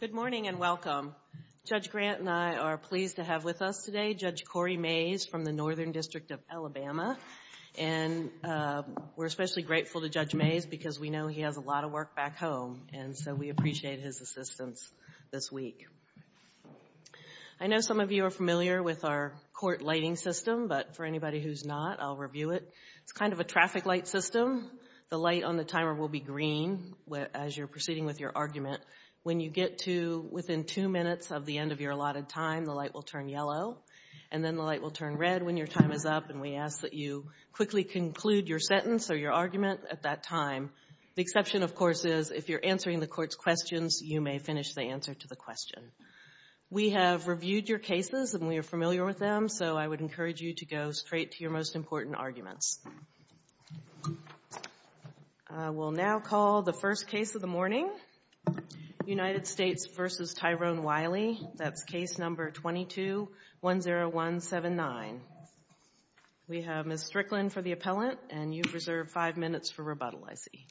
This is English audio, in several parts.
Good morning and welcome. Judge Grant and I are pleased to have with us today Judge Corey Mays from the Northern District of Alabama, and we're especially grateful to Judge Mays because we know he has a lot of work back home, and so we appreciate his assistance this week. I know some of you are familiar with our court lighting system, but for anybody who's not, I'll review it. It's kind of a traffic light system. The light on the timer will be green as you're proceeding with your argument. When you get to within two minutes of the end of your allotted time, the light will turn yellow, and then the light will turn red when your time is up, and we ask that you quickly conclude your sentence or your argument at that time. The exception, of course, is if you're answering the court's questions, you may finish the answer to the question. We have reviewed your cases, and we are familiar with them, so I would encourage you to go straight to your most important arguments. I will now call the first case of the morning, United States v. Tyvonne Wiley. That's case number 22-10179. We have Ms. Strickland for the appellant, and you've reserved five minutes for rebuttal, I see.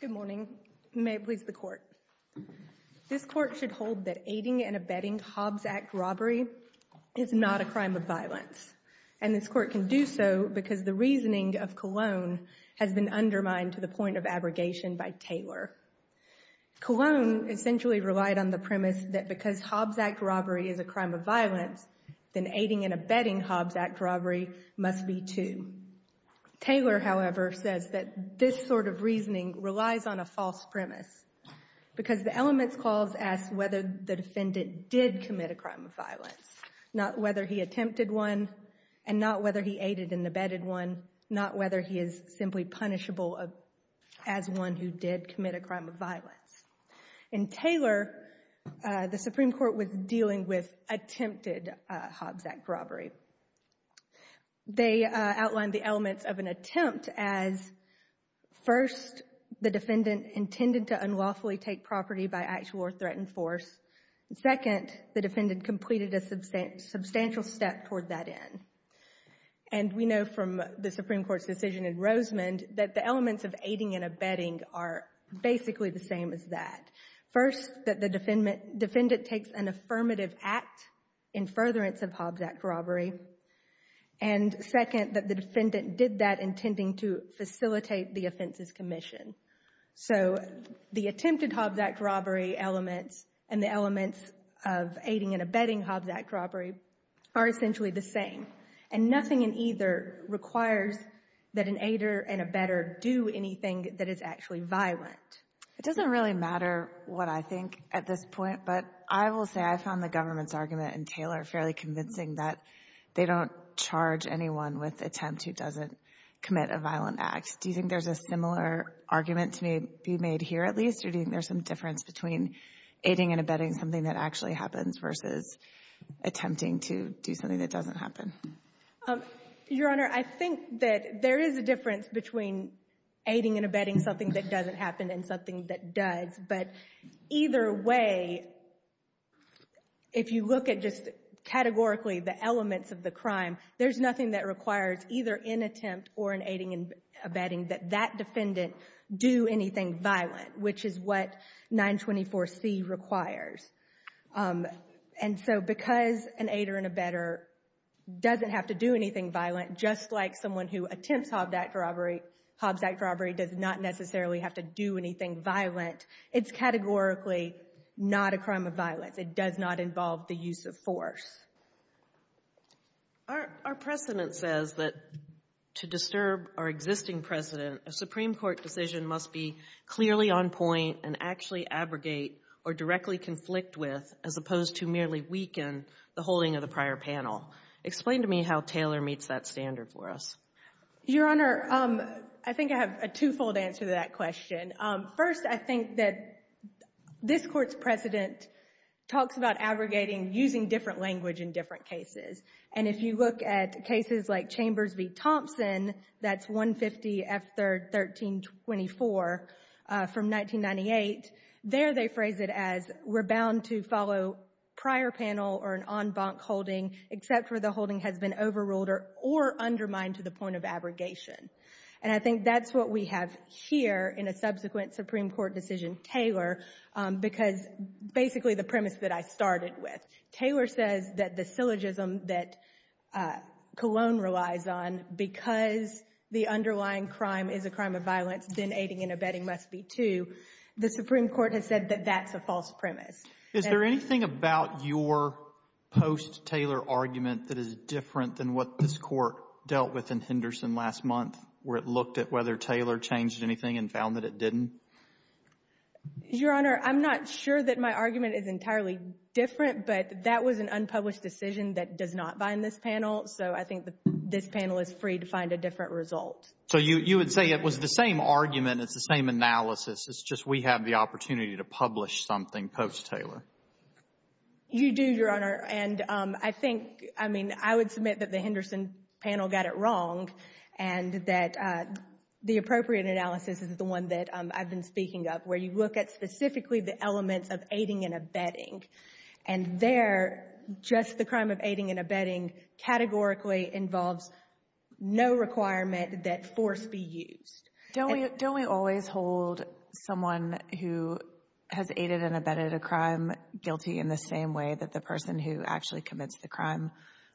Good morning. May it please the court. This court should hold that aiding and abetting Hobbs Act robbery is not a crime of violence, and this court can do so because the reasoning of Cologne has been undermined to the point of abrogation by Taylor. Cologne essentially relied on the premise that because Hobbs Act robbery is a crime of violence, then aiding and abetting Hobbs Act robbery must be, too. Taylor, however, says that this sort of reasoning relies on a false premise because the elements clause asks whether the defendant did commit a crime of violence, not whether he attempted one and not whether he aided and abetted one, not whether he is simply punishable as one who did commit a crime of violence. In Taylor, the Supreme Court was dealing with attempted Hobbs Act robbery. They outlined the elements of an attempt as, first, the defendant intended to unlawfully take property by actual or threatened force, and second, the defendant completed a substantial step toward that end. And we know from the Supreme Court's decision in that case that the elements are basically the same as that. First, that the defendant takes an affirmative act in furtherance of Hobbs Act robbery, and second, that the defendant did that intending to facilitate the offenses commission. So the attempted Hobbs Act robbery elements and the elements of aiding and abetting Hobbs Act robbery are essentially the same, and nothing in either requires that an aider and abetter do anything that is actually violent. It doesn't really matter what I think at this point, but I will say I found the government's argument in Taylor fairly convincing that they don't charge anyone with attempt who doesn't commit a violent act. Do you think there's a similar argument to be made here at least, or do you think there's some difference between aiding and abetting something that actually happens versus attempting to do something that doesn't happen? Your Honor, I think that there is a difference between aiding and abetting something that doesn't happen and something that does. But either way, if you look at just categorically the elements of the crime, there's nothing that requires either an attempt or an aiding and abetting that that defendant do anything violent, which is what 924C requires. And so because an aider and abetter doesn't have to do anything violent, just like someone who attempts Hobbs Act robbery does not necessarily have to do anything violent, it's categorically not a crime of violence. It does not involve the use of force. Our precedent says that to disturb our existing precedent, a Supreme Court decision must be opposed to merely weaken the holding of the prior panel. Explain to me how Taylor meets that standard for us. Your Honor, I think I have a two-fold answer to that question. First, I think that this Court's precedent talks about abrogating using different language in different cases. And if you look at cases like Chambers v. Thompson, that's 150 F. 3rd 1324 from 1998, there they phrase it as we're bound to follow prior panel or an en banc holding except for the holding has been overruled or undermined to the point of abrogation. And I think that's what we have here in a subsequent Supreme Court decision, Taylor, because basically the premise that I started with, Taylor says that the syllogism that Cologne relies on, because the underlying crime is a crime of violence, then aiding and abetting must be too. The Supreme Court has said that that's a false premise. Is there anything about your post-Taylor argument that is different than what this Court dealt with in Henderson last month, where it looked at whether Taylor changed anything and found that it didn't? Your Honor, I'm not sure that my argument is entirely different, but that was an unpublished decision that does not bind this panel, so I think this panel is free to find a different result. So you would say it was the same argument, it's the same analysis, it's just we have the opportunity to publish something post-Taylor. You do, Your Honor, and I think, I mean, I would submit that the Henderson panel got it wrong and that the appropriate analysis is the one that I've been speaking of, where you look at specifically the elements of aiding and abetting, and there just the crime of aiding and abetting categorically involves no requirement that force be used. Don't we always hold someone who has aided and abetted a crime guilty in the same way that the person who actually committed the crime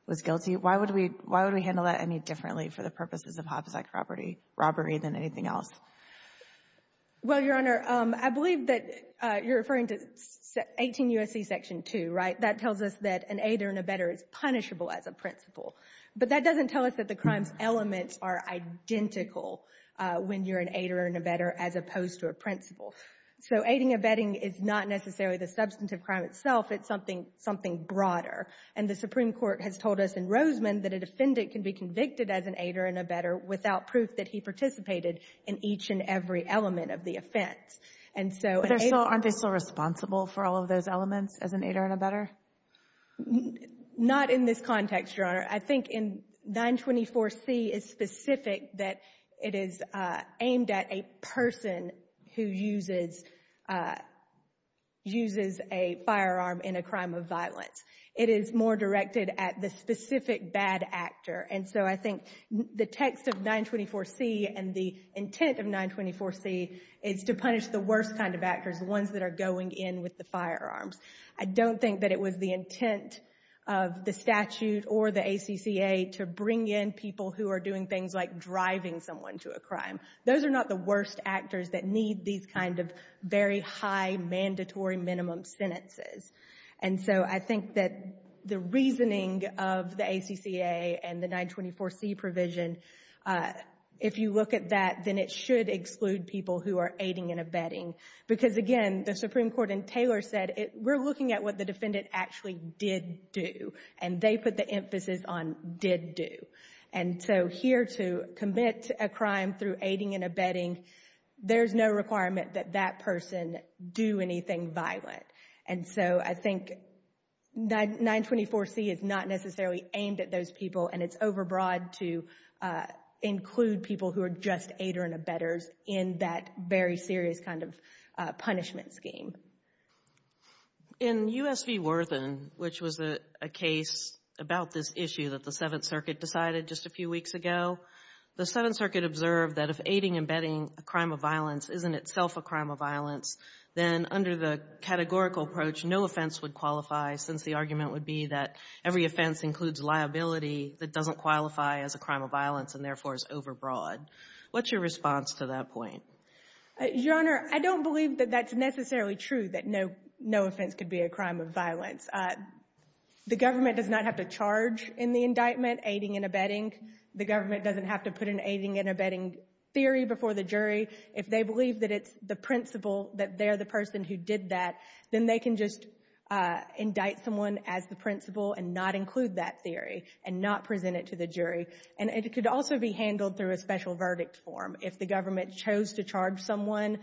was guilty? Why would we handle that any differently for the purposes of homicide robbery than anything else? Well, Your Honor, I believe that you're referring to 18 U.S.C. Section 2, right? That tells us that an aider and abetter is punishable as a principle, but that doesn't tell us that the crime's elements are identical when you're an aider and abetter as opposed to a principle. So aiding and abetting is not necessarily the substantive crime itself, it's something broader, and the Supreme Court has told us in Roseman that a defendant can be convicted as an aider and abetter without proof that he participated in each and every element of the offense. But aren't they still responsible for all of those elements as an aider and abetter? Not in this context, Your Honor. I think in 924C, it's specific that it is aimed at a person who uses a firearm in a crime of violence. It is more directed at the specific bad actor, and so I think the text of 924C and the intent of 924C is to punish the worst kind of actors, the ones that are going in with the firearms. I don't think that it was the intent of the statute or the ACCA to bring in people who are doing things like driving someone to a crime. Those are not the worst actors that need these kind of very high mandatory minimum sentences. And so I think that the reasoning of the ACCA and the 924C provision, if you look at that, then it should exclude people who are aiding and abetting. Because, again, the Supreme Court in Taylor said, we're looking at what the defendant actually did do, and they put the emphasis on did do. And so here to commit a crime through aiding and abetting, there's no requirement that that person do anything violent. And so I think 924C is not necessarily aimed at those people, and it's overbroad to include people who are just aider and abetters in that very serious kind of punishment scheme. In U.S. v. Worthen, which was a case about this issue that the Seventh Circuit decided just a few weeks ago, the Seventh Circuit observed that if aiding and abetting a crime of violence isn't itself a crime of violence, then under the categorical approach, no offense would qualify, since the argument would be that every offense includes liability that doesn't qualify as a crime of violence and therefore is overbroad. What's your response to that point? Your Honor, I don't believe that that's necessarily true, that no offense could be a crime of violence. The government does not have to charge in the indictment, aiding and abetting. The government doesn't have to put an aiding and abetting theory before the jury. If they believe that it's the principle that they're the person who did that, then they can just indict someone as the principle and not include that theory and not present it to the jury. And it could also be handled through a special verdict form. If the government chose to charge someone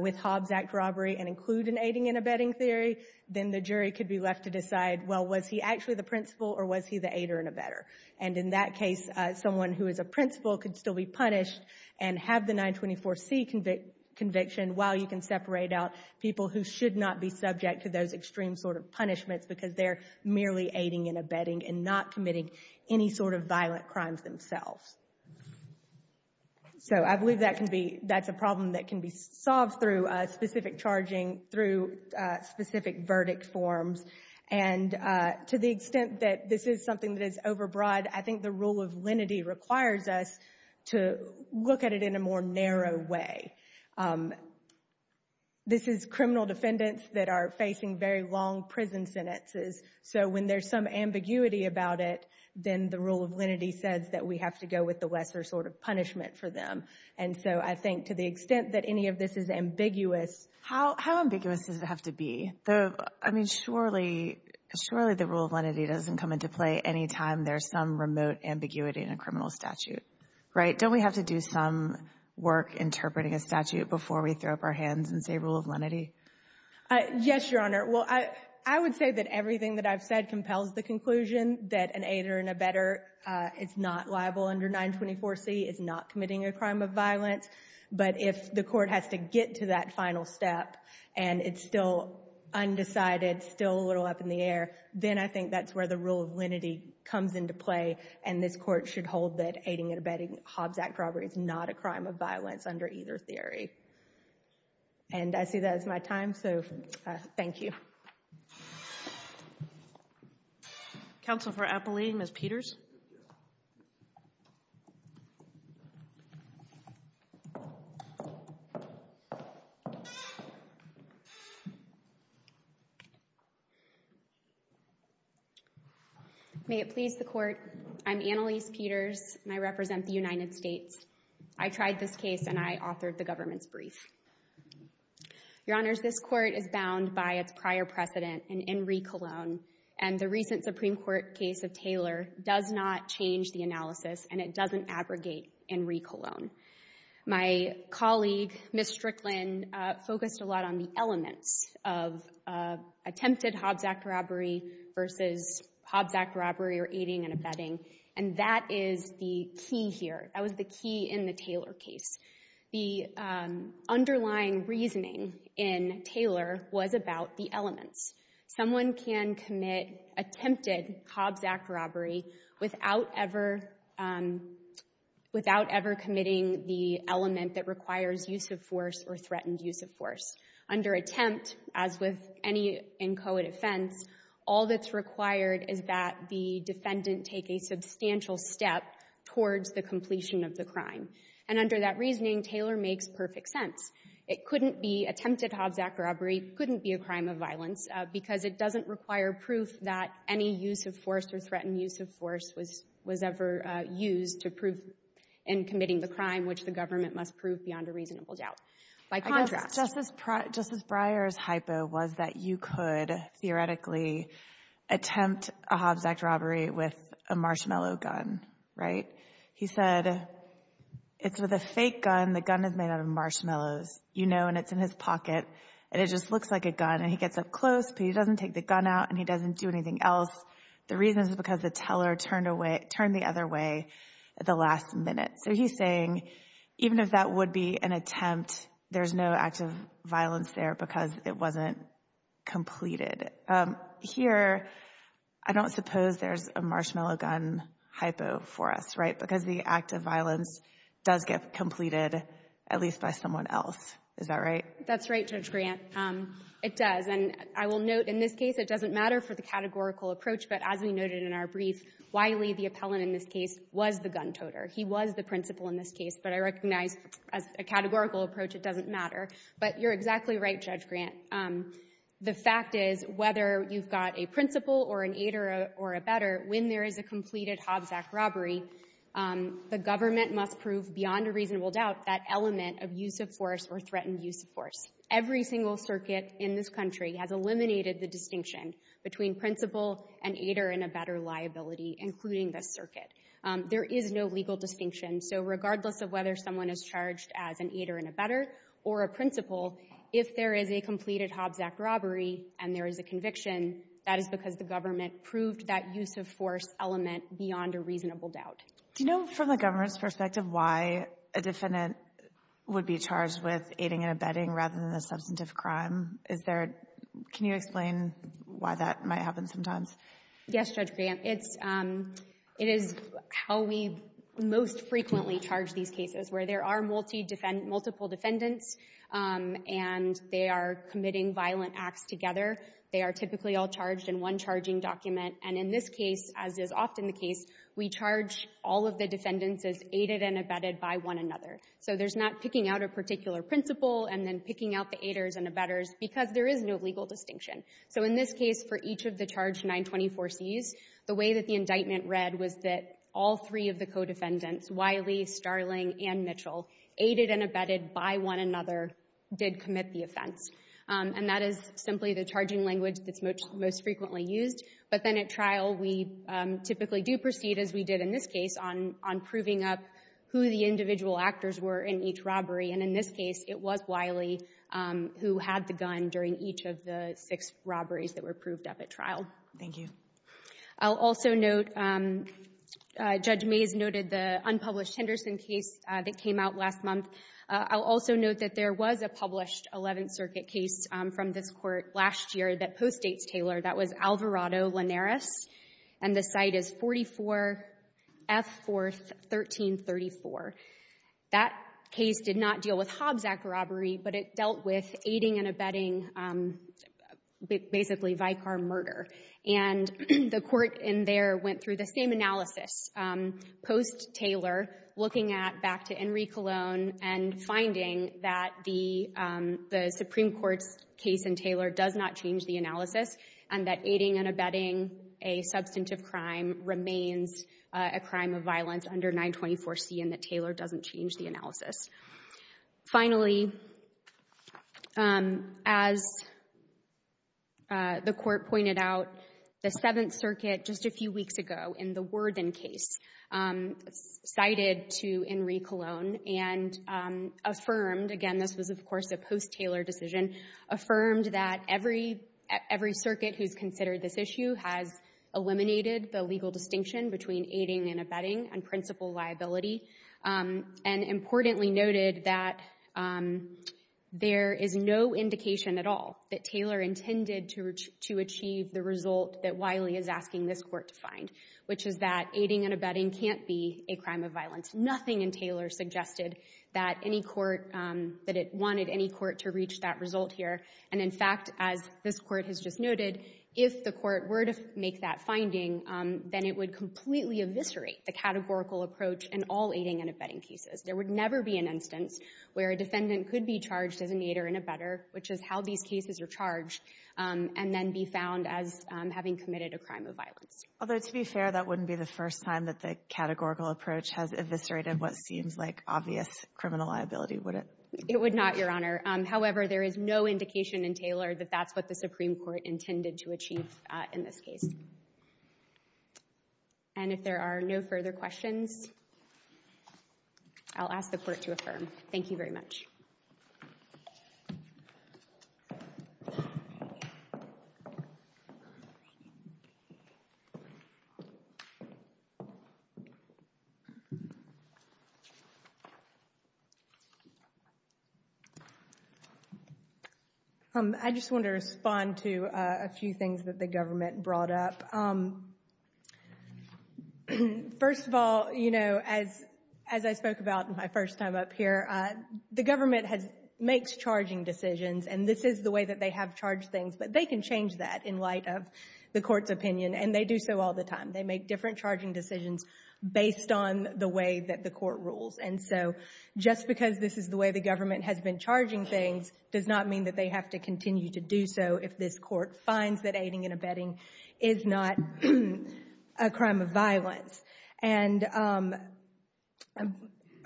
with Hobbs Act robbery and include an aiding and abetting theory, then the jury could be left to decide, well, was he actually the principle or was he the aider and abetter? And in that case, someone who is a principle could still be punished and have the 924C conviction while you can separate out people who should not be subject to those extreme sort of punishments because they're merely aiding and abetting and not committing any sort of violent crimes themselves. So I believe that can be, that's a problem that can be solved through specific charging, through specific verdict forms, and to the extent that this is something that is overbroad, I think the rule of lenity requires us to look at it in a more narrow way. This is criminal defendants that are facing very long prison sentences. So when there's some ambiguity about it, then the rule of lenity says that we have to go with the lesser sort of punishment for them. And so I think to the extent that any of this is ambiguous. How ambiguous does it have to be? I mean, surely the rule of lenity doesn't come into play anytime there's some remote ambiguity in a criminal statute, right? Don't we have to do some work interpreting a statute before we throw up our hands and say rule of lenity? Yes, Your Honor. Well, I would say that everything that I've said compels the conclusion that an aider and abetter is not liable under 924C, is not committing a crime of violence. But if the court has to get to that final step and it's still undecided, still a little up in the air, then I think that's where the rule of lenity comes into play. And this court should hold that aiding and abetting Hobbs Act robbery is not a crime of violence under either theory. And I see that as my time, so thank you. Counsel for Appellee, Ms. Peters. May it please the Court. I'm Annalise Peters, and I represent the United States. I tried this case, and I authored the government's brief. Your Honors, this court is bound by its prior precedent in Enrique Colon, and the recent Supreme Court case of Taylor does not change the analysis, and it doesn't abrogate Enrique Colon. My colleague, Ms. Strickland, focused a lot on the elements of attempted Hobbs Act robbery versus Hobbs Act robbery or aiding and abetting, and that is the key here. That was the key in the Taylor case. The underlying reasoning in Taylor was about the elements. Someone can commit attempted Hobbs Act robbery without ever committing the element that requires use of force or threatened use of force. Under attempt, as with any inchoate offense, all that's required is that the defendant take a substantial step towards the completion of the crime. And under that reasoning, Taylor makes perfect sense. It couldn't be attempted Hobbs Act robbery. It couldn't be a crime of violence because it doesn't require proof that any use of force or threatened use of force was ever used to prove in committing the crime, which the government must prove beyond a reasonable doubt. By contrast — Justice Breyer's hypo was that you could theoretically attempt a Hobbs Act robbery with a marshmallow gun, right? He said it's with a fake gun. The gun is made out of marshmallows, you know, and it's in his pocket, and it just looks like a gun, and he gets up close, but he doesn't take the gun out, and he doesn't do anything else. The reason is because the teller turned the other way at the last minute. So he's saying even if that would be an attempt, there's no act of violence there because it wasn't completed. Here, I don't suppose there's a marshmallow gun hypo for us, right, because the act of violence does get completed at least by someone else. Is that right? That's right, Judge Grant. It does, and I will note in this case it doesn't matter for the categorical approach, but as we noted in our brief, Wiley, the appellant in this case, was the gun toter. He was the principal in this case, but I recognize as a categorical approach it doesn't matter. But you're exactly right, Judge Grant. The fact is whether you've got a principal or an aider or a bedder, when there is a completed Hobbs Act robbery, the government must prove beyond a reasonable doubt that element of use of force or threatened use of force. Every single circuit in this country has eliminated the distinction between principal, an aider, and a bedder liability, including this circuit. There is no legal distinction. So regardless of whether someone is charged as an aider and a bedder or a principal, if there is a completed Hobbs Act robbery and there is a conviction, that is because the government proved that use of force element beyond a reasonable doubt. Do you know from the government's perspective why a defendant would be charged with aiding and abetting rather than a substantive crime? Is there – can you explain why that might happen sometimes? Yes, Judge Grant. It's – it is how we most frequently charge these cases, where there are multiple defendants and they are committing violent acts together. They are typically all charged in one charging document. And in this case, as is often the case, we charge all of the defendants as aided and abetted by one another. So there's not picking out a particular principal and then picking out the aiders and the bedders because there is no legal distinction. So in this case, for each of the charged 924Cs, the way that the indictment read was that all three of the co-defendants, Wiley, Starling, and Mitchell, aided and abetted by one another, did commit the offense. And that is simply the charging language that's most frequently used. But then at trial, we typically do proceed, as we did in this case, on proving up who the individual actors were in each robbery. And in this case, it was Wiley who had the gun during each of the six robberies that were proved up at trial. Thank you. I'll also note, Judge Mays noted the unpublished Henderson case that came out last month. I'll also note that there was a published Eleventh Circuit case from this court last year that postdates Taylor. That was Alvarado-Linares. And the site is 44 F. 4th, 1334. That case did not deal with Hobbs Act robbery, but it dealt with aiding and abetting basically Vicar murder. And the court in there went through the same analysis post-Taylor, looking at back to Enrique Colon and finding that the Supreme Court's case in Taylor does not change the analysis and that aiding and abetting a substantive crime remains a crime of violence under 924C and that Taylor doesn't change the analysis. Finally, as the court pointed out, the Seventh Circuit just a few weeks ago, in the Worden case, cited to Enrique Colon and affirmed — again, this was, of course, a post-Taylor decision — affirmed that every circuit who's considered this issue has eliminated the legal distinction between aiding and abetting and principal liability and importantly noted that there is no indication at all that Taylor intended to achieve the result that Wiley is asking this Court to find, which is that aiding and abetting can't be a crime of violence. Nothing in Taylor suggested that any court — that it wanted any court to reach that result here. And, in fact, as this Court has just noted, if the court were to make that finding, then it would completely eviscerate the categorical approach in all aiding and abetting cases. There would never be an instance where a defendant could be charged as an aider and abetter, which is how these cases are charged, and then be found as having committed a crime of violence. Although, to be fair, that wouldn't be the first time that the categorical approach has eviscerated what seems like obvious criminal liability, would it? It would not, Your Honor. However, there is no indication in Taylor that that's what the Supreme Court intended to achieve in this case. And if there are no further questions, I'll ask the Court to affirm. Thank you very much. Thank you. I just want to respond to a few things that the government brought up. First of all, you know, as I spoke about in my first time up here, the government makes charging decisions, and this is the way that they have charged things. But they can change that in light of the Court's opinion, and they do so all the time. They make different charging decisions based on the way that the Court rules. And so just because this is the way the government has been charging things does not mean that they have to continue to do so if this Court finds that aiding and abetting is not a crime of violence. And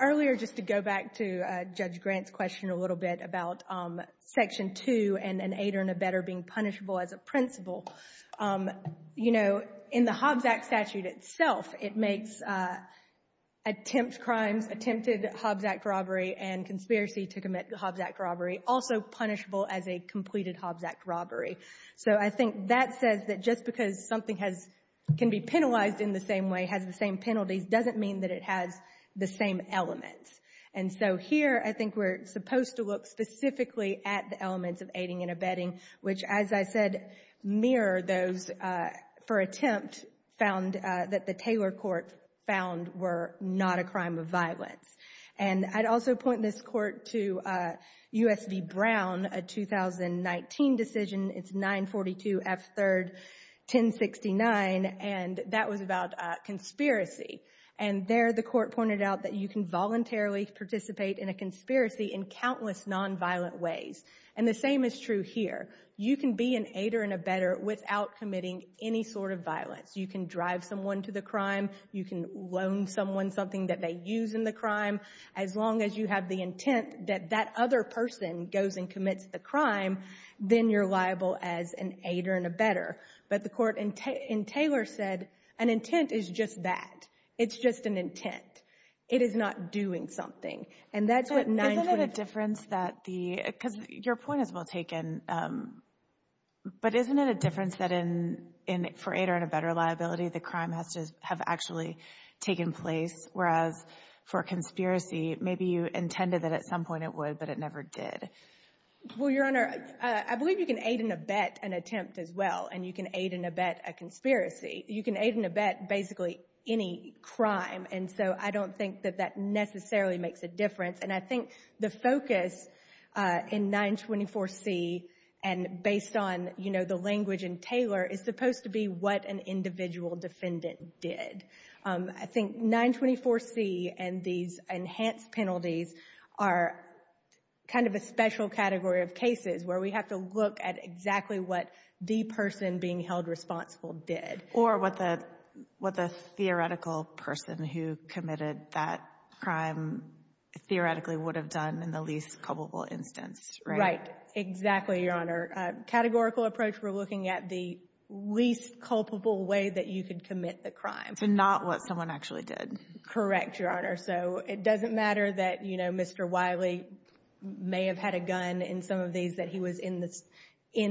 earlier, just to go back to Judge Grant's question a little bit about Section 2 and an aider and abetter being punishable as a principle, you know, in the Hobbs Act statute itself, it makes attempt crimes, attempted Hobbs Act robbery and conspiracy to commit Hobbs Act robbery also punishable as a completed Hobbs Act robbery. So I think that says that just because something has — can be penalized in the same way, has the same penalties, doesn't mean that it has the same elements. And so here, I think we're supposed to look specifically at the elements of aiding and abetting, which, as I said, mirror those for attempt found that the Taylor Court found were not a crime of violence. And I'd also point this Court to U.S. v. Brown, a 2019 decision. It's 942 F. 3rd 1069, and that was about conspiracy. And there, the Court pointed out that you can voluntarily participate in a conspiracy in countless nonviolent ways. And the same is true here. You can be an aider and abetter without committing any sort of violence. You can drive someone to the crime. You can loan someone something that they use in the crime. As long as you have the intent that that other person goes and commits the crime, then you're liable as an aider and abetter. But the Court in Taylor said an intent is just that. It's just an intent. It is not doing something. And that's what 942 — Isn't it a difference that the — because your point is well taken, but isn't it a liability, the crime has to have actually taken place, whereas for a conspiracy, maybe you intended that at some point it would, but it never did. Well, Your Honor, I believe you can aid and abet an attempt as well. And you can aid and abet a conspiracy. You can aid and abet basically any crime. And so I don't think that that necessarily makes a difference. And I think the focus in 924 C, and based on, you know, the language in Taylor, is supposed to be what an individual defendant did. I think 924 C and these enhanced penalties are kind of a special category of cases where we have to look at exactly what the person being held responsible did. Or what the theoretical person who committed that crime theoretically would have done in the least probable instance, right? Right. Exactly, Your Honor. In your categorical approach, we're looking at the least culpable way that you could commit the crime. So not what someone actually did. Correct, Your Honor. So it doesn't matter that, you know, Mr. Wiley may have had a gun in some of these, that he was in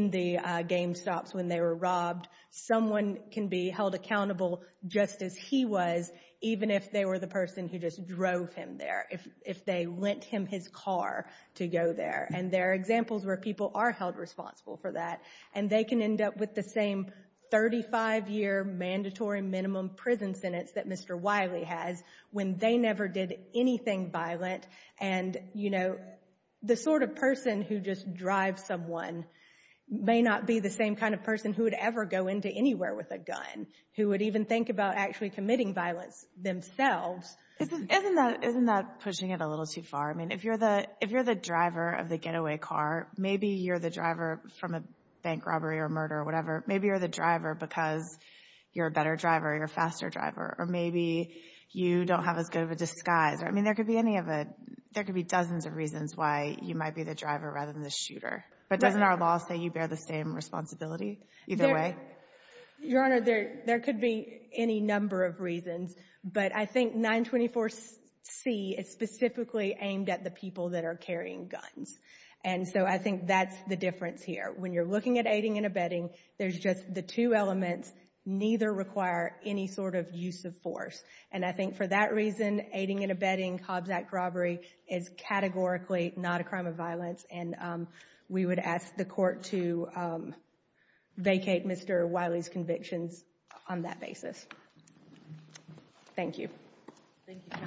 the game stops when they were robbed. Someone can be held accountable just as he was, even if they were the person who just drove him there, if they lent him his car to go there. And there are examples where people are held responsible for that. And they can end up with the same 35-year mandatory minimum prison sentence that Mr. Wiley has when they never did anything violent. And, you know, the sort of person who just drives someone may not be the same kind of person who would ever go into anywhere with a gun, who would even think about actually committing violence themselves. Isn't that pushing it a little too far? I mean, if you're the driver of the getaway car, maybe you're the driver from a bank robbery or murder or whatever. Maybe you're the driver because you're a better driver, you're a faster driver. Or maybe you don't have as good of a disguise. I mean, there could be dozens of reasons why you might be the driver rather than the shooter. But doesn't our law say you bear the same responsibility either way? Your Honor, there could be any number of reasons. But I think 924C is specifically aimed at the people that are carrying guns. And so I think that's the difference here. When you're looking at aiding and abetting, there's just the two elements. Neither require any sort of use of force. And I think for that reason, aiding and abetting, Hobbs Act robbery, is categorically not a crime of violence. And we would ask the court to vacate Mr. Wiley's convictions on that basis. Thank you. Thank you, counsel.